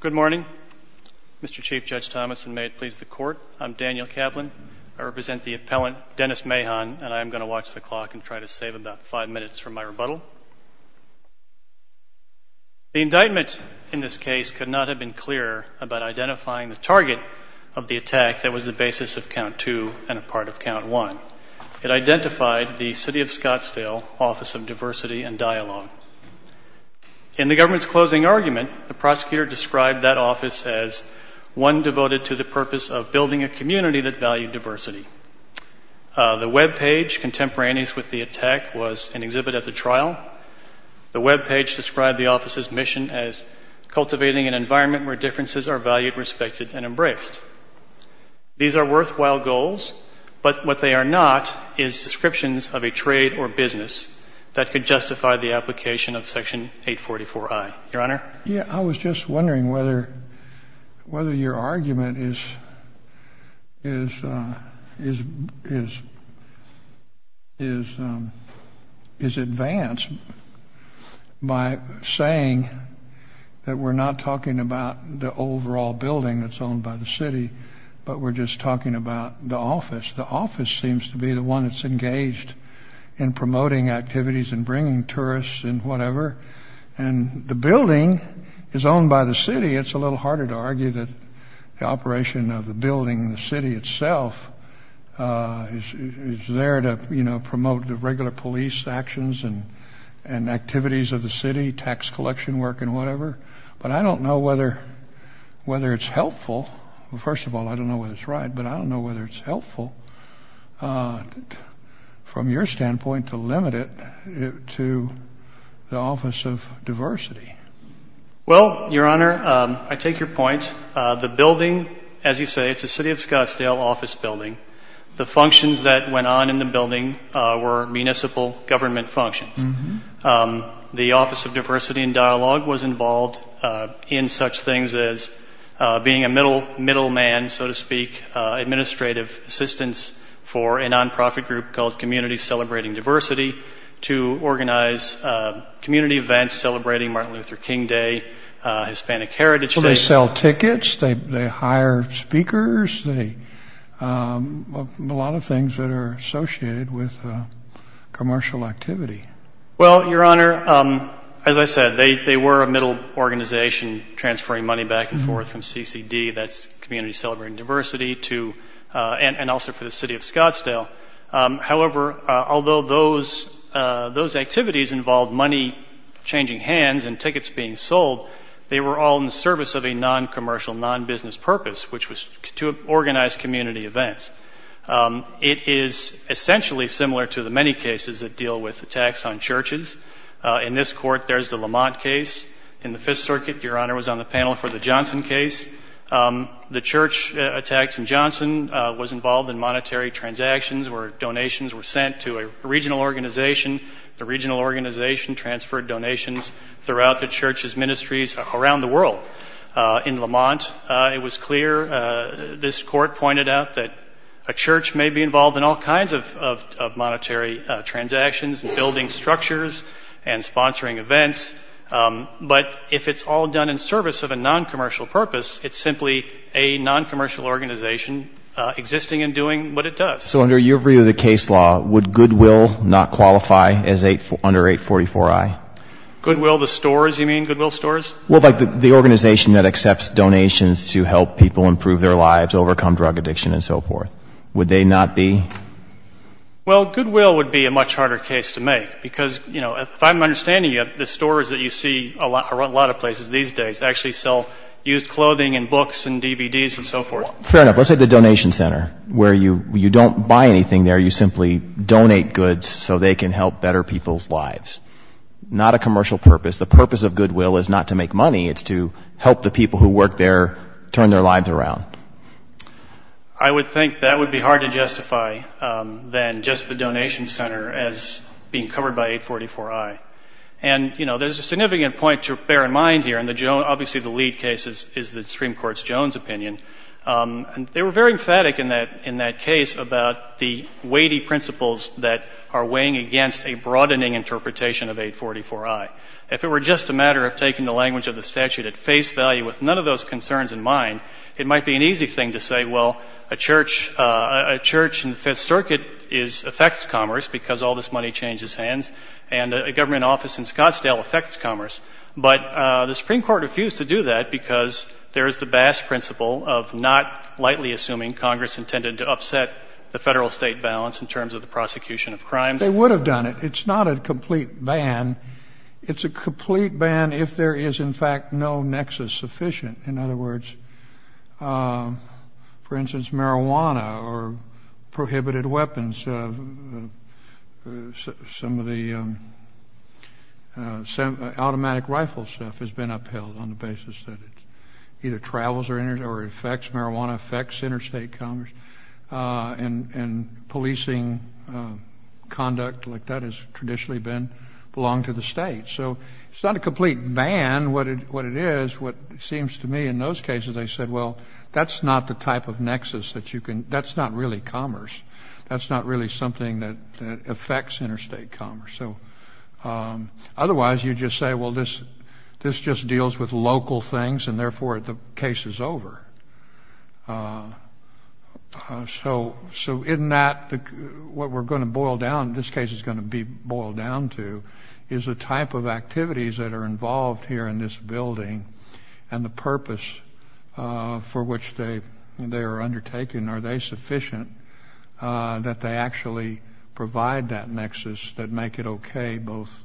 Good morning, Mr. Chief Judge Thomas, and may it please the Court, I'm Daniel Kavlin. I represent the appellant, Dennis Mahon, and I am going to watch the clock and try to save about five minutes from my rebuttal. The indictment in this case could not have been clearer about identifying the target of the attack that was the basis of Count II and a part of Count I. It identified the City of Scottsdale Office of Diversity and Dialogue. In the government's closing argument, the prosecutor described that office as one devoted to the purpose of building a community that valued diversity. The webpage contemporaneous with the attack was an exhibit at the trial. The webpage described the office's mission as cultivating an environment where differences are valued, respected, and embraced. These are worthwhile goals, but what they are not is descriptions of a trade or business that could justify the application of Section 844I. Your Honor? Yeah, I was just wondering whether your argument is advanced by saying that we're not talking about the overall building that's owned by the city, but we're just talking about the office. The office seems to be the one that's engaged in promoting activities and bringing tourists and whatever, and the building is owned by the city. It's a little harder to argue that the operation of the building and the city itself is there to, you know, promote the regular police actions and activities of the city, tax collection work and whatever, but I don't know whether it's helpful. Well, first of all, I don't know whether it's right, but I don't know whether it's helpful from your standpoint to limit it to the Office of Diversity. so to speak, administrative assistance for a nonprofit group called Community Celebrating Diversity to organize community events celebrating Martin Luther King Day, Hispanic Heritage Day. Well, they sell tickets, they hire speakers, a lot of things that are associated with commercial activity. Well, Your Honor, as I said, they were a middle organization transferring money back and forth from CCD, that's Community Celebrating Diversity, and also for the city of Scottsdale. However, although those activities involved money changing hands and tickets being sold, they were all in the service of a noncommercial, nonbusiness purpose, which was to organize community events. It is essentially similar to the many cases that deal with attacks on churches. In this court, there's the Lamont case. In the Fifth Circuit, Your Honor, was on the panel for the Johnson case. The church attacks in Johnson was involved in monetary transactions where donations were sent to a regional organization. The regional organization transferred donations throughout the church's ministries around the world. In Lamont, it was clear, this court pointed out that a church may be involved in all kinds of monetary transactions, building structures and sponsoring events, but if it's all done in service of a noncommercial purpose, it's simply a noncommercial organization existing and doing what it does. So under your view of the case law, would Goodwill not qualify under 844i? Goodwill the stores, you mean? Goodwill stores? Well, like the organization that accepts donations to help people improve their lives, overcome drug addiction and so forth. Would they not be? Well, Goodwill would be a much harder case to make because, you know, if I'm understanding you, the stores that you see a lot of places these days actually sell used clothing and books and DVDs and so forth. Fair enough. Let's say the donation center where you don't buy anything there. You simply donate goods so they can help better people's lives. Not a commercial purpose. The purpose of Goodwill is not to make money. It's to help the people who work there turn their lives around. I would think that would be harder to justify than just the donation center as being covered by 844i. And, you know, there's a significant point to bear in mind here, and obviously the lead case is the Supreme Court's Jones opinion. They were very emphatic in that case about the weighty principles that are weighing against a broadening interpretation of 844i. If it were just a matter of taking the language of the statute at face value with none of those concerns in mind, it might be an easy thing to say, well, a church in the Fifth Circuit affects commerce because all this money changes hands, and a government office in Scottsdale affects commerce. But the Supreme Court refused to do that because there is the Bass principle of not lightly assuming Congress intended to upset the federal-state balance in terms of the prosecution of crimes. They would have done it. It's not a complete ban. It's a complete ban if there is, in fact, no nexus sufficient. In other words, for instance, marijuana or prohibited weapons, some of the automatic rifle stuff has been upheld on the basis that it either travels or affects marijuana, affects interstate commerce, and policing conduct like that has traditionally belonged to the state. So it's not a complete ban, what it is. What it seems to me in those cases, they said, well, that's not the type of nexus that you can, that's not really commerce. That's not really something that affects interstate commerce. So otherwise, you just say, well, this just deals with local things, and therefore the case is over. So in that, what we're going to boil down, this case is going to be boiled down to, is the type of activities that are involved here in this building and the purpose for which they are undertaken. Are they sufficient that they actually provide that nexus that make it okay, both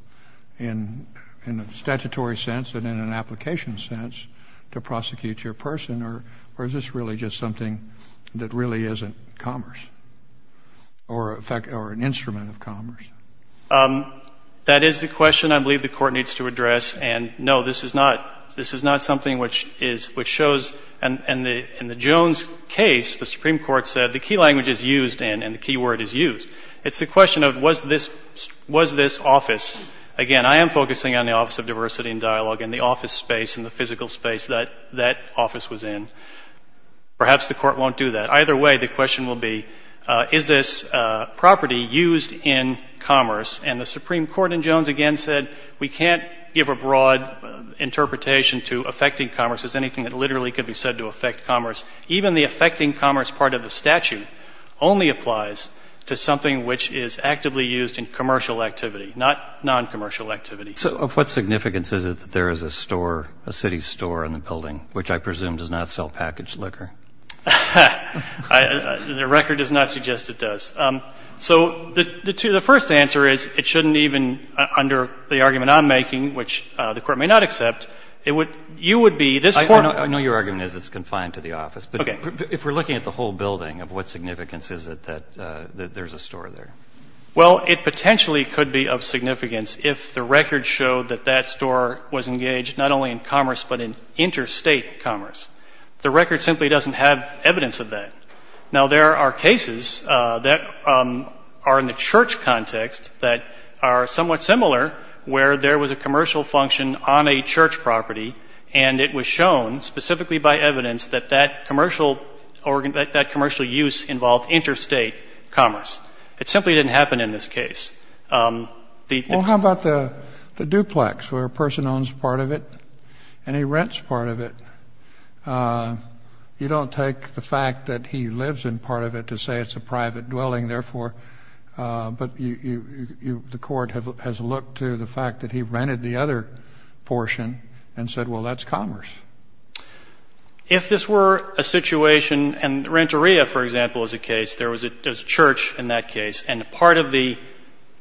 in a statutory sense and in an application sense, to prosecute your person, or is this really just something that really isn't commerce or an instrument of commerce? That is the question I believe the Court needs to address, and no, this is not something which shows. In the Jones case, the Supreme Court said the key language is used, and the key word is used. It's the question of was this office. Again, I am focusing on the Office of Diversity and Dialogue and the office space and the physical space that that office was in. Perhaps the Court won't do that. Either way, the question will be, is this property used in commerce? And the Supreme Court in Jones again said, we can't give a broad interpretation to affecting commerce as anything that literally could be said to affect commerce. Even the affecting commerce part of the statute only applies to something which is actively used in commercial activity, not noncommercial activity. So of what significance is it that there is a store, a city store in the building, which I presume does not sell packaged liquor? The record does not suggest it does. So the first answer is it shouldn't even, under the argument I'm making, which the Court may not accept, you would be this Court. I know your argument is it's confined to the office, but if we're looking at the whole building, of what significance is it that there's a store there? Well, it potentially could be of significance if the record showed that that store was engaged not only in commerce, but in interstate commerce. The record simply doesn't have evidence of that. Now, there are cases that are in the church context that are somewhat similar, where there was a commercial function on a church property, and it was shown specifically by evidence that that commercial use involved interstate commerce. It simply didn't happen in this case. Well, how about the duplex, where a person owns part of it and he rents part of it? You don't take the fact that he lives in part of it to say it's a private dwelling, therefore, but the Court has looked to the fact that he rented the other portion and said, well, that's commerce. If this were a situation, and the rent-a-ria, for example, is a case, there was a church in that case, and part of the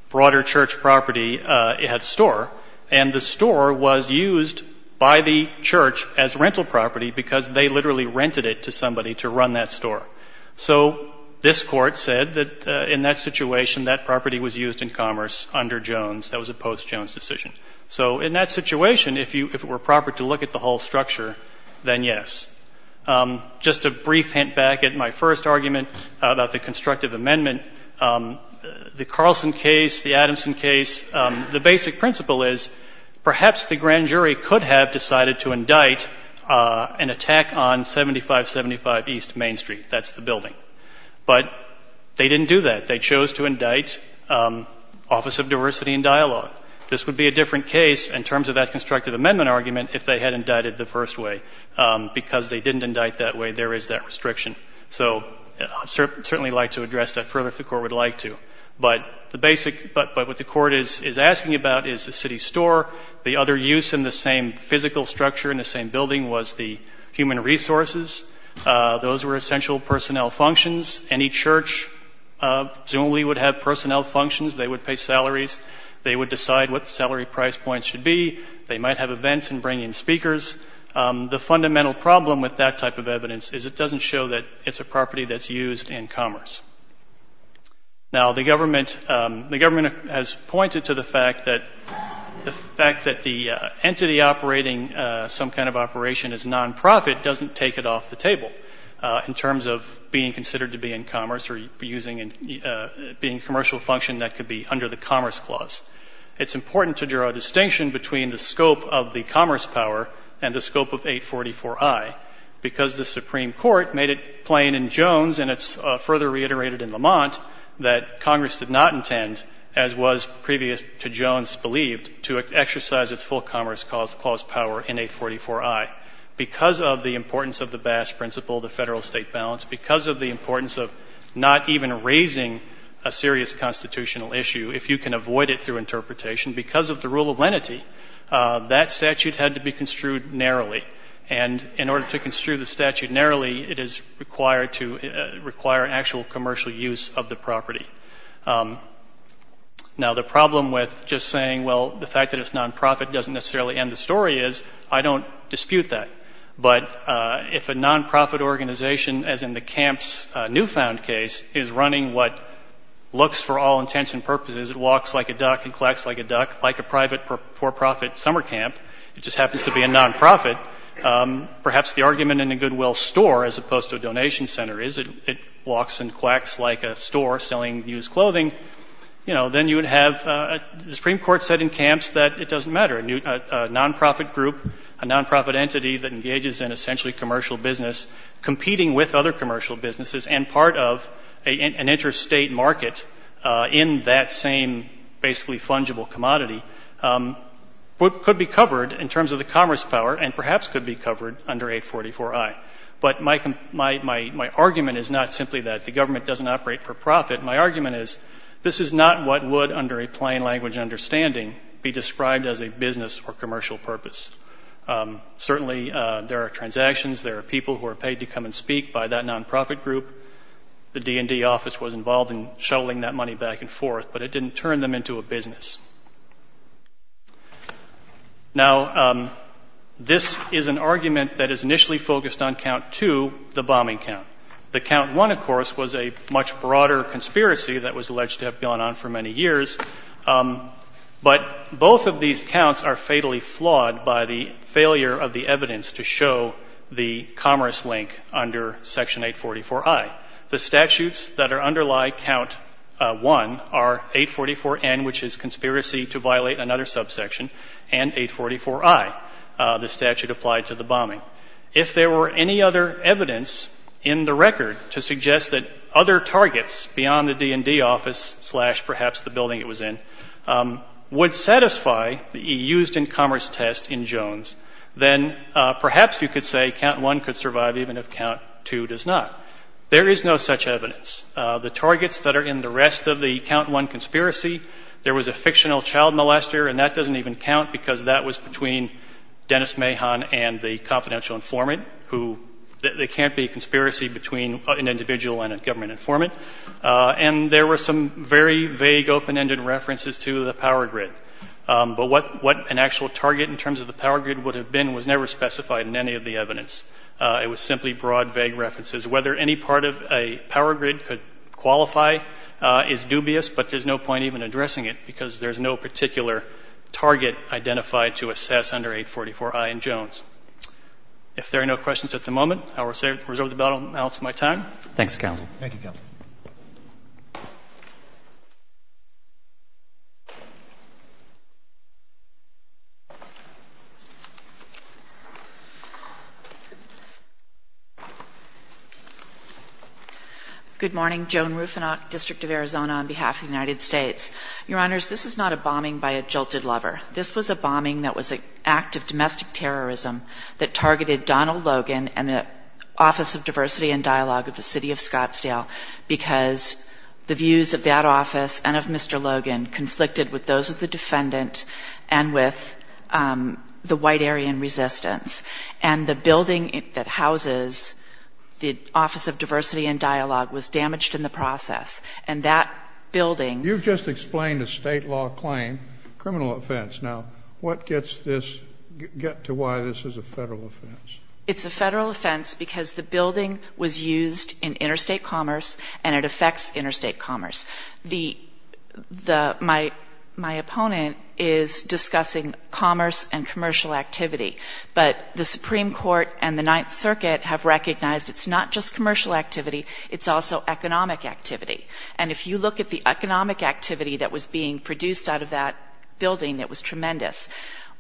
broader church property, it had a store, and the store was used by the church as rental property because they literally rented it to somebody to run that business. And this Court said that in that situation, that property was used in commerce under Jones. That was a post-Jones decision. So in that situation, if it were proper to look at the whole structure, then yes. Just a brief hint back at my first argument about the constructive amendment, the Carlson case, the Adamson case, the basic principle is, perhaps the grand jury could have decided to indict an attack on 7575 East Main Street. That's the building. But they didn't do that. They chose to indict Office of Diversity and Dialogue. This would be a different case in terms of that constructive amendment argument if they had indicted the first way. Because they didn't indict that way, there is that restriction. So I'd certainly like to address that further if the Court would like to. But the basic — but what the Court is asking about is the city store. The other use in the same physical structure in the same building was the human resources. Those were essential personnel functions. Any church presumably would have personnel functions. They would pay salaries. They would decide what the salary price points should be. They might have events and bring in speakers. The fundamental problem with that type of evidence is it doesn't show that it's a property that's used in commerce. Now, the government has pointed to the fact that the entity operating some kind of operation as a commercial entity being considered to be in commerce or being a commercial function that could be under the Commerce Clause. It's important to draw a distinction between the scope of the commerce power and the scope of 844I because the Supreme Court made it plain in Jones, and it's further reiterated in Lamont, that Congress did not intend, as was previous to Jones believed, to exercise its full commerce clause power in 844I. Because of the importance of the Bass Principle, the federal-state balance, because of the importance of the importance of not even raising a serious constitutional issue, if you can avoid it through interpretation, because of the rule of lenity, that statute had to be construed narrowly. And in order to construe the statute narrowly, it is required to require actual commercial use of the property. Now, the problem with just saying, well, the fact that it's nonprofit doesn't necessarily end the story is, I don't dispute that. But if a nonprofit organization, as in the Camp's newfound case, is running what looks for all intents and purposes, it walks like a duck and quacks like a duck, like a private for-profit summer camp, it just happens to be a nonprofit, perhaps the argument in a Goodwill store as opposed to a donation center is it walks and quacks like a store selling used clothing, you know, then you have a nonprofit group, a nonprofit entity that engages in essentially commercial business competing with other commercial businesses and part of an interstate market in that same basically fungible commodity, what could be covered in terms of the commerce power and perhaps could be covered under 844I. But my argument is not simply that the government doesn't operate for profit. My argument is this is not what would, under a lot of circumstances, certainly there are transactions, there are people who are paid to come and speak by that nonprofit group, the D&D office was involved in shuttling that money back and forth, but it didn't turn them into a business. Now, this is an argument that is initially focused on count two, the bombing count. The count one, of course, was a much broader conspiracy that was alleged to have gone on for many years, but both of these counts are fatally flawed by the failure of the evidence to show the commerce link under Section 844I. The statutes that underlie count one are 844N, which is conspiracy to violate another subsection, and 844I, the statute applied to the bombing. If there were any other evidence in the record to suggest that other targets beyond the D&D office slash perhaps the building were involved in the bombing, the building it was in, would satisfy the used in commerce test in Jones, then perhaps you could say count one could survive even if count two does not. There is no such evidence. The targets that are in the rest of the count one conspiracy, there was a fictional child molester, and that doesn't even count because that was between Dennis Mahon and the confidential informant who they can't be a conspiracy between an individual and a government informant, and there were some very vague open-ended references to the power grid, but what an actual target in terms of the power grid would have been was never specified in any of the evidence. It was simply broad, vague references. Whether any part of a power grid could qualify is dubious, but there's no point even addressing it because there's no particular target identified to assess under 844I in Jones. If there are no questions at the moment, I will reserve the balance of my time. Thanks, counsel. Good morning. Joan Rufinock, District of Arizona, on behalf of the United States. Your Honors, this is not a bombing by a jolted lever. This is a bombing that was an act of domestic terrorism that targeted Donald Logan and the Office of Diversity and Dialogue of the City of Scottsdale because the views of that office and of Mr. Logan conflicted with those of the defendant and with the white Aryan resistance, and the building that houses the Office of Diversity and Dialogue was damaged in the process, and that building... The building was damaged in the process because the building was used in interstate commerce, and it affects interstate commerce. Now, what gets this... Get to why this is a federal offense. It's a federal offense because the building was used in interstate commerce, and it affects interstate commerce. My opponent is discussing commerce and commercial activity, but the Supreme Court and the Ninth Circuit have recognized it's not just commercial activity, it's also economic activity. And if you look at the cost of being produced out of that building, it was tremendous.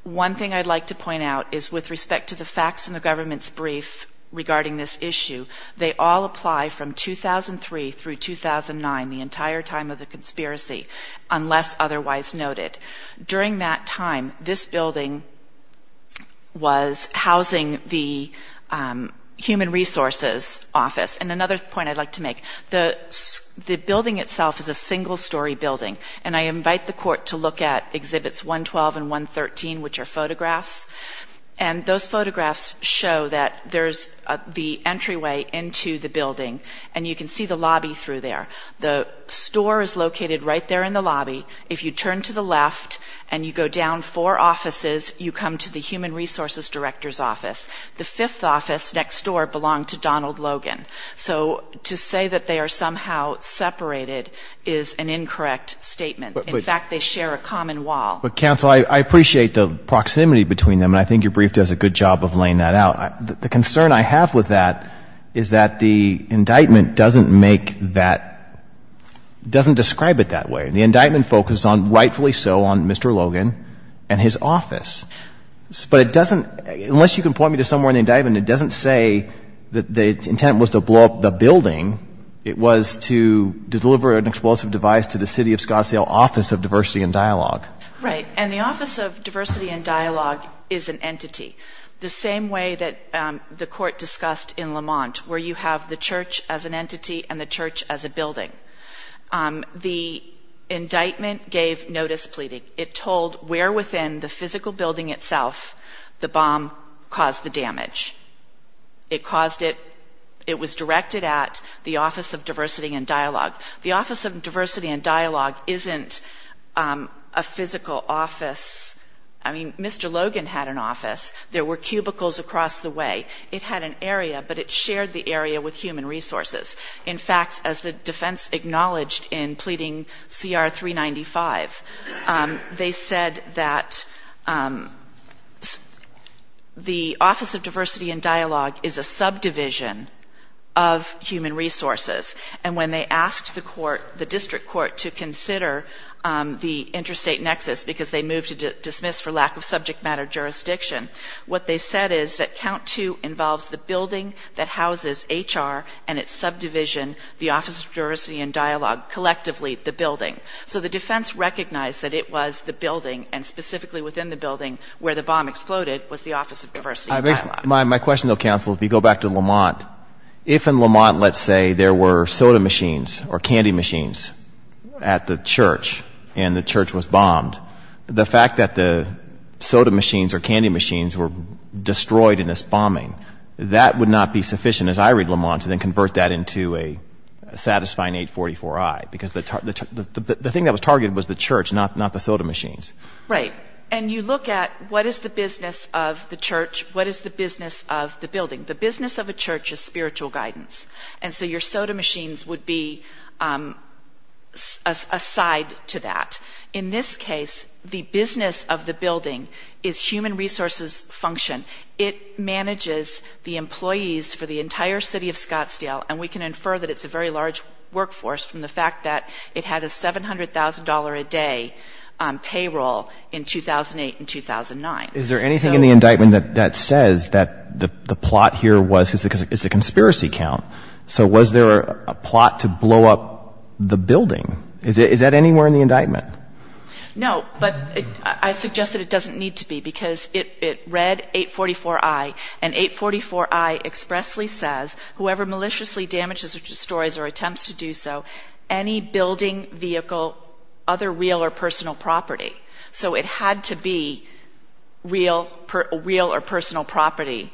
One thing I'd like to point out is with respect to the facts in the government's brief regarding this issue, they all apply from 2003 through 2009, the entire time of the conspiracy, unless otherwise noted. During that time, this building was housing the Human Resources Office. And another point I'd like to make, the building itself is a single-story building, and I imagine that the building is a single-story building. I invite the Court to look at Exhibits 112 and 113, which are photographs, and those photographs show that there's the entryway into the building, and you can see the lobby through there. The store is located right there in the lobby. If you turn to the left and you go down four offices, you come to the Human Resources Director's Office. The fifth office next door belonged to Donald Logan. So to say that they are somehow separated is an incorrect statement. In fact, they share a common wall. But, counsel, I appreciate the proximity between them, and I think your brief does a good job of laying that out. The concern I have with that is that the indictment doesn't make that, doesn't describe it that way. The indictment focused on, rightfully so, on Mr. Logan and his office. But it doesn't, unless you can point me to somewhere in the indictment, it doesn't say that the intent was to blow up the building. It was to blow up the building. Right. And the Office of Diversity and Dialogue is an entity. The same way that the Court discussed in Lamont, where you have the church as an entity and the church as a building. The indictment gave notice pleading. It told where within the physical building itself the bomb caused the damage. It caused it, it was directed at the Office of Diversity and Dialogue. The Office of Diversity and Dialogue isn't a building. It's a physical office. I mean, Mr. Logan had an office. There were cubicles across the way. It had an area, but it shared the area with human resources. In fact, as the defense acknowledged in pleading CR 395, they said that the Office of Diversity and Dialogue is a subdivision of human resources. And when they asked the court, the district court, to consider the subdivision of human resources, they said that the Office of Diversity and Dialogue was the building that houses HR and its subdivision, the Office of Diversity and Dialogue collectively the building. So the defense recognized that it was the building, and specifically within the building where the bomb exploded, was the Office of Diversity and Dialogue. My question, though, counsel, if you go back to Lamont, if in Lamont, let's say, there were soda machines or candy machines at the time when the church was bombed, the fact that the soda machines or candy machines were destroyed in this bombing, that would not be sufficient, as I read Lamont, to then convert that into a satisfying 844-I, because the thing that was targeted was the church, not the soda machines. Right. And you look at what is the business of the church, what is the business of the building. The business of a church is human resources function. In this case, the business of the building is human resources function. It manages the employees for the entire city of Scottsdale, and we can infer that it's a very large workforce from the fact that it had a $700,000-a-day payroll in 2008 and 2009. Is there anything in the indictment that says that the plot here was, because it's a conspiracy count, so was there a plot to blow up the building? No, but I suggest that it doesn't need to be, because it read 844-I, and 844-I expressly says, whoever maliciously damages or destroys or attempts to do so, any building, vehicle, other real or personal property. So it had to be real or personal property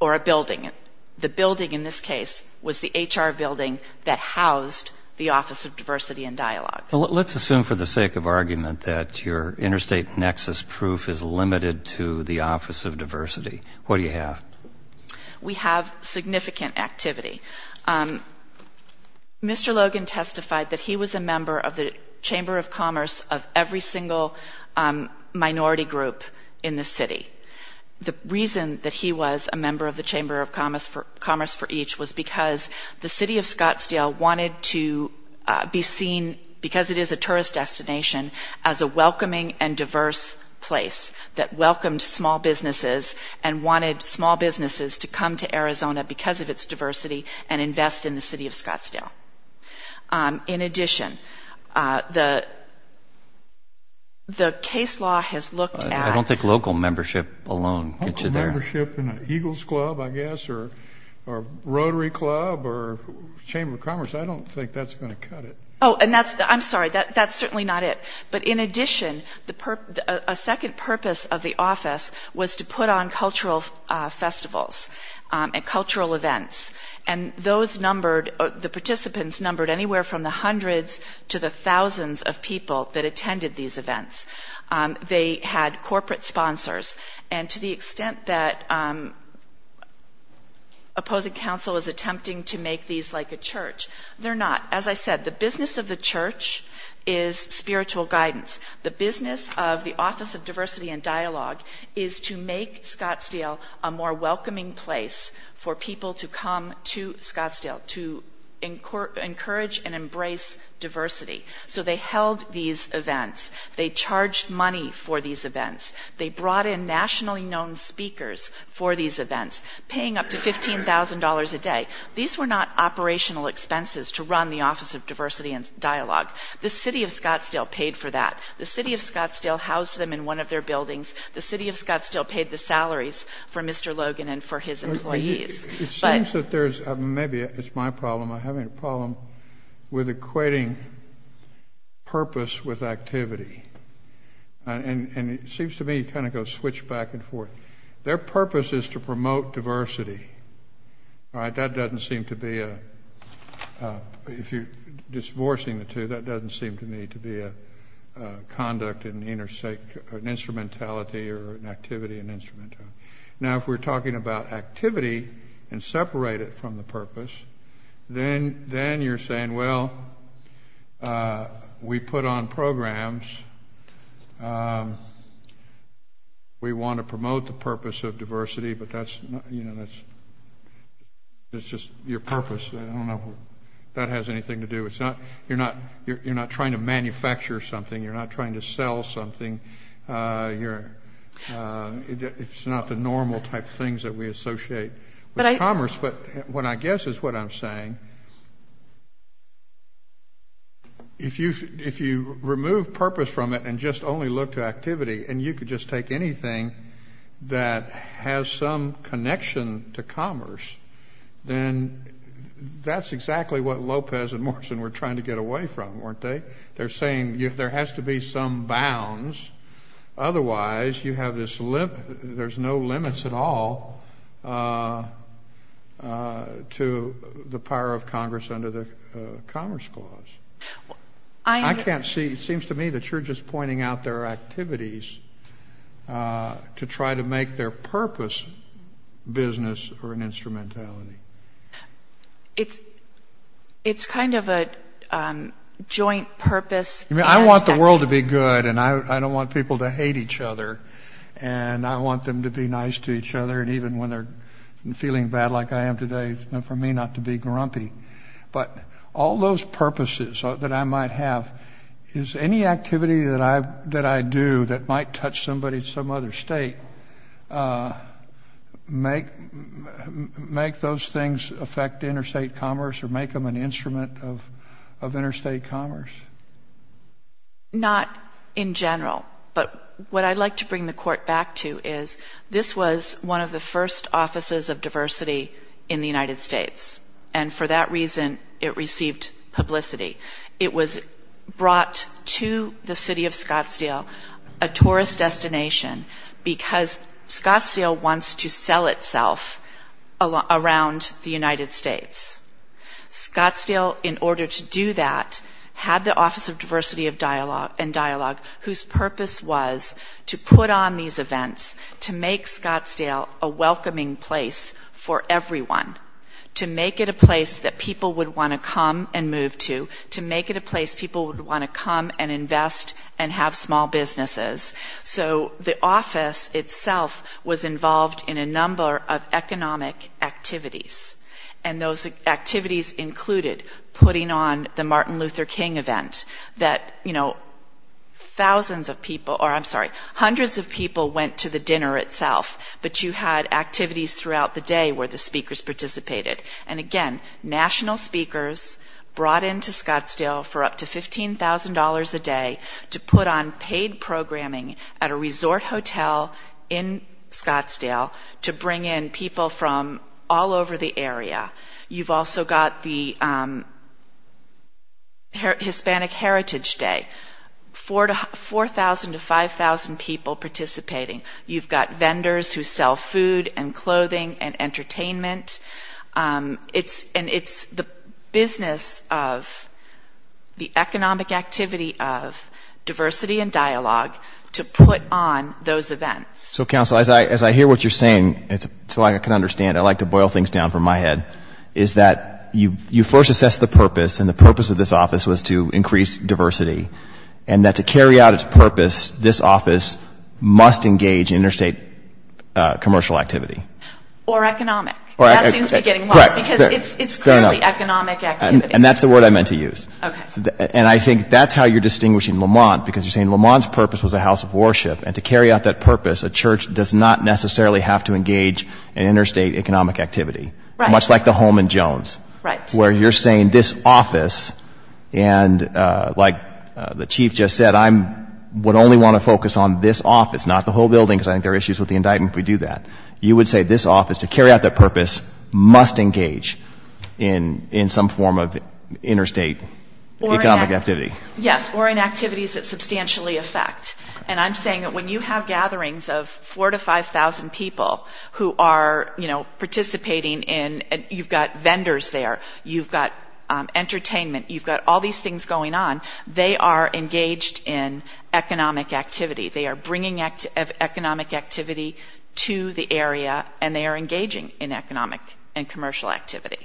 or a building. The building in this case was the HR building that housed the Office of Diversity and Dialogue. Let's assume for the sake of argument that your interstate nexus proof is limited to the Office of Diversity. What do you have? We have significant activity. Mr. Logan testified that he was a member of the Chamber of Commerce of every single minority group in the city. The reason that he was a member of the Chamber of Commerce for each was because the city of Scottsdale wanted to be seen because it is a tourist destination as a welcoming and diverse place that welcomed small businesses and wanted small businesses to come to Arizona because of its diversity and invest in the city of Scottsdale. In addition, the case law has looked at I don't think local membership alone gets you there. Local membership in an Eagles Club, I guess, or Rotary Club or Chamber of Commerce, I don't think that's going to cut it. I'm sorry, that's certainly not it. But in addition, a second purpose of the office was to put on cultural festivals and cultural events. And those numbered, the participants numbered anywhere from the hundreds to the thousands of people that attended these events. They had corporate sponsors. And to the extent that opposing counsel is attempting to make these like a church, they're not. As I said, the business of the church is spiritual guidance. The business of the Office of Diversity and Dialogue is to make Scottsdale a more welcoming place for people to come to Scottsdale, to encourage and embrace diversity. So they held these events. They charged money for these events. They brought in nationally known speakers for these events, paying up to $15,000 a day. These were not operational expenses to run the Office of Diversity and Dialogue. The City of Scottsdale paid for that. The City of Scottsdale housed them in one of their buildings. The City of Scottsdale paid the salaries for Mr. Logan and for his employees. It seems that there's a, maybe it's my problem, I'm having a problem with equating purpose with activity. And it seems to me you kind of go switch back and forth. Their purpose is to promote diversity. All right? That doesn't seem to make sense. That doesn't seem to be a, if you're divorcing the two, that doesn't seem to me to be a conduct in the inner sake, an instrumentality or an activity, an instrumentality. Now, if we're talking about activity and separate it from the purpose, then you're saying, well, we put on programs. We want to promote the purpose of diversity, but that's, you know, that's, that's just your purpose. I don't know if that has anything to do. It's not, you're not, you're not trying to manufacture something. You're not trying to sell something. You're, it's not the normal type of things that we associate with commerce. But what I guess is what I'm saying, if you, if you remove purpose from it and just only look to activity and you could just take anything that has some connection to commerce, then that's exactly what Lopez and Morrison were trying to get away from, weren't they? They're saying there has to be some bounds, otherwise you have this, there's no limits at all to the power of Congress under the Commerce Clause. I can't see, it seems to me that you're just pointing out there are activities to try to make their purpose business or an instrumentality. It's, it's kind of a joint purpose. I want the world to be good, and I don't want people to hate each other, and I want them to be nice to each other, and even when they're feeling bad like I am today, for me not to be grumpy. But all those purposes that I might have is any activity that I do that might touch somebody in some other state, make, make those things affect interstate commerce or make them an instrument of interstate commerce? Not in general, but what I'd like to bring the Court back to is this was one of the first offices of diversity in the United States, and for that reason, it received publicity. It was brought to the city of Scottsdale by the Department of Tourism, a tourist destination, because Scottsdale wants to sell itself around the United States. Scottsdale, in order to do that, had the Office of Diversity and Dialogue, whose purpose was to put on these events to make Scottsdale a welcoming place for everyone, to make it a place that people would want to come and move to, to make it a place people would want to come and have small businesses. So the office itself was involved in a number of economic activities, and those activities included putting on the Martin Luther King event, that, you know, thousands of people, or I'm sorry, hundreds of people went to the dinner itself, but you had activities throughout the day where the speakers participated. And again, national speakers brought in to Scottsdale for up to $15,000 a day to put on paid programming at a resort hotel in Scottsdale to bring in people from all over the area. You've also got the Hispanic Heritage Day, 4,000 to 5,000 people participating. You've got vendors who sell food and clothing and entertainment. And it's the business of the economic activity of diversity and dialogue to put on those events. So, counsel, as I hear what you're saying, so I can understand, I like to boil things down from my head, is that you first assessed the purpose, and the purpose of this office was to increase diversity, and that to carry out its purpose, this office must engage in interstate commercial activity. Or economic. That seems to be getting lost, because it's clearly economic activity. And that's the word I meant to use. And I think that's how you're distinguishing Lamont, because you're saying Lamont's purpose was a house of worship, and to carry out that purpose, a church does not necessarily have to engage in interstate economic activity. Much like the home in Jones, where you're saying this office, and like the chief just said, I would only want to focus on this office, not the whole building, because I think there are issues with the indictment if we do that. You would say this office, to carry out that purpose, must engage in some form of interstate economic activity. Yes, or in activities that substantially affect. And I'm saying that when you have gatherings of 4,000 to 5,000 people who are, you know, participating in, you've got vendors there, you've got entertainment, you've got all these things going on, they are engaged in economic activity. They are bringing economic activity to the area, and they are engaging in economic and commercial activity.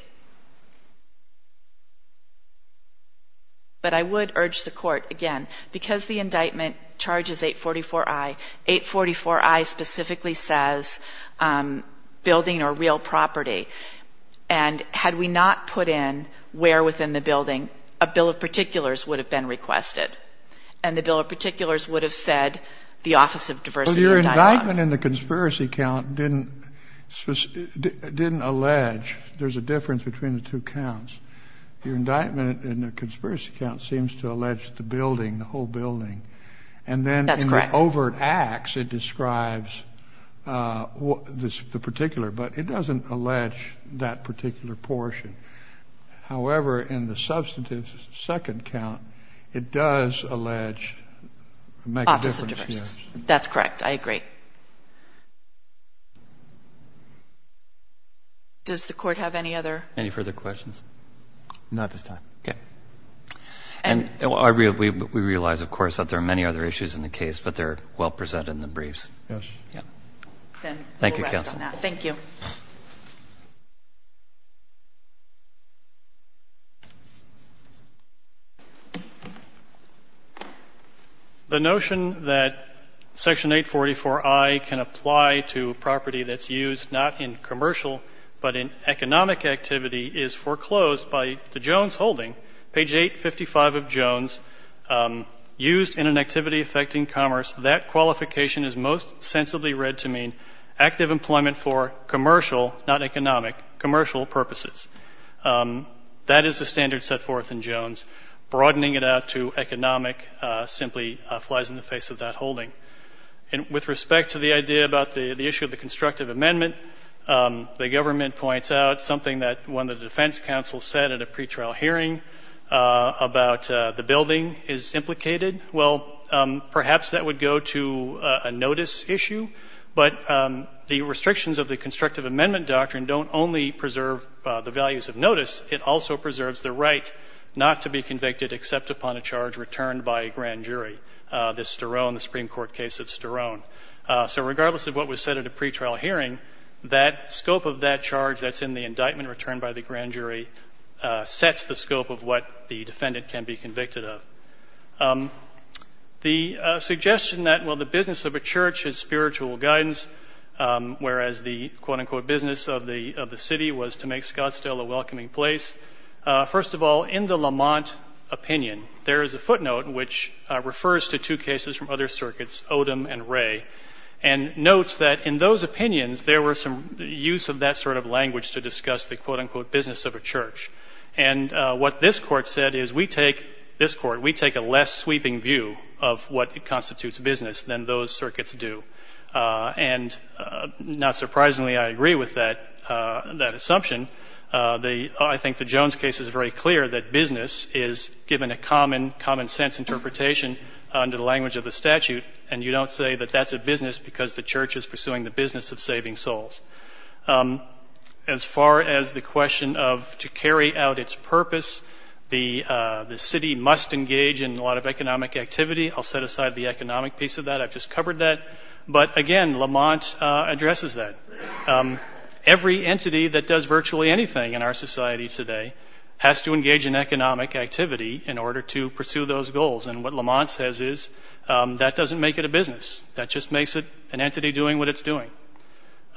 But I would urge the court, again, because the indictment charges 844I, 844I specifically says building or real property. And had we not put in where within the building, a bill of particulars would have been requested, and the bill of particulars would have said the Office of Diversity and Dialogue. Well, your indictment in the conspiracy count didn't allege, there's a difference between the two counts. Your indictment in the conspiracy count seems to allege the building, the whole building. That's correct. In the overt acts, it describes the particular, but it doesn't allege that particular portion. However, in the substantive second count, it does allege, make a difference. Office of Diversity. That's correct. I agree. Does the court have any other? Any further questions? Not at this time. Okay. And we realize, of course, that there are many other issues in the case, but they're well presented in the briefs. Yes. Thank you, counsel. Thank you. The notion that Section 844I can apply to property that's used not in commercial, but in economic activity is foreclosed by the Jones holding, page 855 of Jones, used in an activity affecting commerce. That qualification is most sensibly read to mean active employment for commercial, not economic, commercial purposes. That is the standard set forth in Jones. Broadening it out to economic simply flies in the face of that holding. And with respect to the idea about the issue of the constructive amendment, the government points out something that when the defense counsel said at a pretrial hearing about the building is implicated, well, perhaps that would go to a notice issue. But the restrictions of the constructive amendment doctrine don't only preserve the values of notice, it also preserves the right not to be convicted except upon a charge returned by a grand jury, the Sturone, the Supreme Court case of Sturone. So regardless of what was said at a pretrial hearing, that scope of that charge that's in the indictment returned by the grand jury sets the scope of what the defendant can be convicted of. The suggestion that, well, the business of a church is spiritual guidance, whereas the, quote-unquote, business of the city was to make Scottsdale a welcoming place, first of all, in the Lamont opinion, there is a footnote which refers to two cases from other circuits, Odom and Ray, and notes that in those opinions there were some use of that sort of language to discuss the, quote-unquote, business of a church. And what this Court said is, we take this Court, we take a law firm, we take the business of a church, and we have a less sweeping view of what constitutes business than those circuits do. And not surprisingly, I agree with that assumption. I think the Jones case is very clear that business is given a common, common sense interpretation under the language of the statute, and you don't say that that's a business because the church is pursuing the business of saving souls. As far as the question of to carry out its purpose, the city must engage in a lot of economic activity. I'll set aside the economic piece of that. I've just covered that. But again, Lamont addresses that. Every entity that does virtually anything in our society today has to engage in economic activity in order to pursue those goals. And what Lamont says is, that doesn't make it a business. That just makes it an entity doing what it's doing.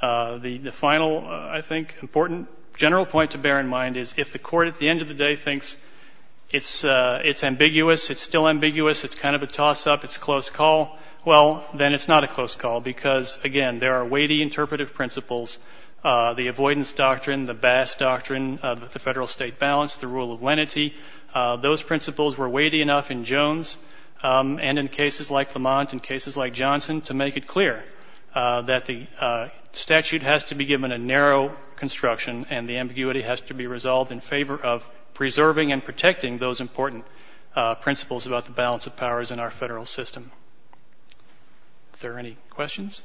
The final, I think, important general point to bear in mind is, if the Court at the end of the day thinks it's ambiguous, it's still ambiguous, it's kind of a toss-up, it's a close call, well, then it's not a close call because, again, there are weighty interpretive principles. The avoidance doctrine, the Bass doctrine, the federal-state balance, the rule of lenity, those principles were weighty enough in Jones and in cases like Lamont and cases like Johnson to make it clear that the statute has to be given a narrow construction and the ambiguity has to be resolved in favor of preserving and protecting those important principles about the balance of powers in our federal system. Are there any questions?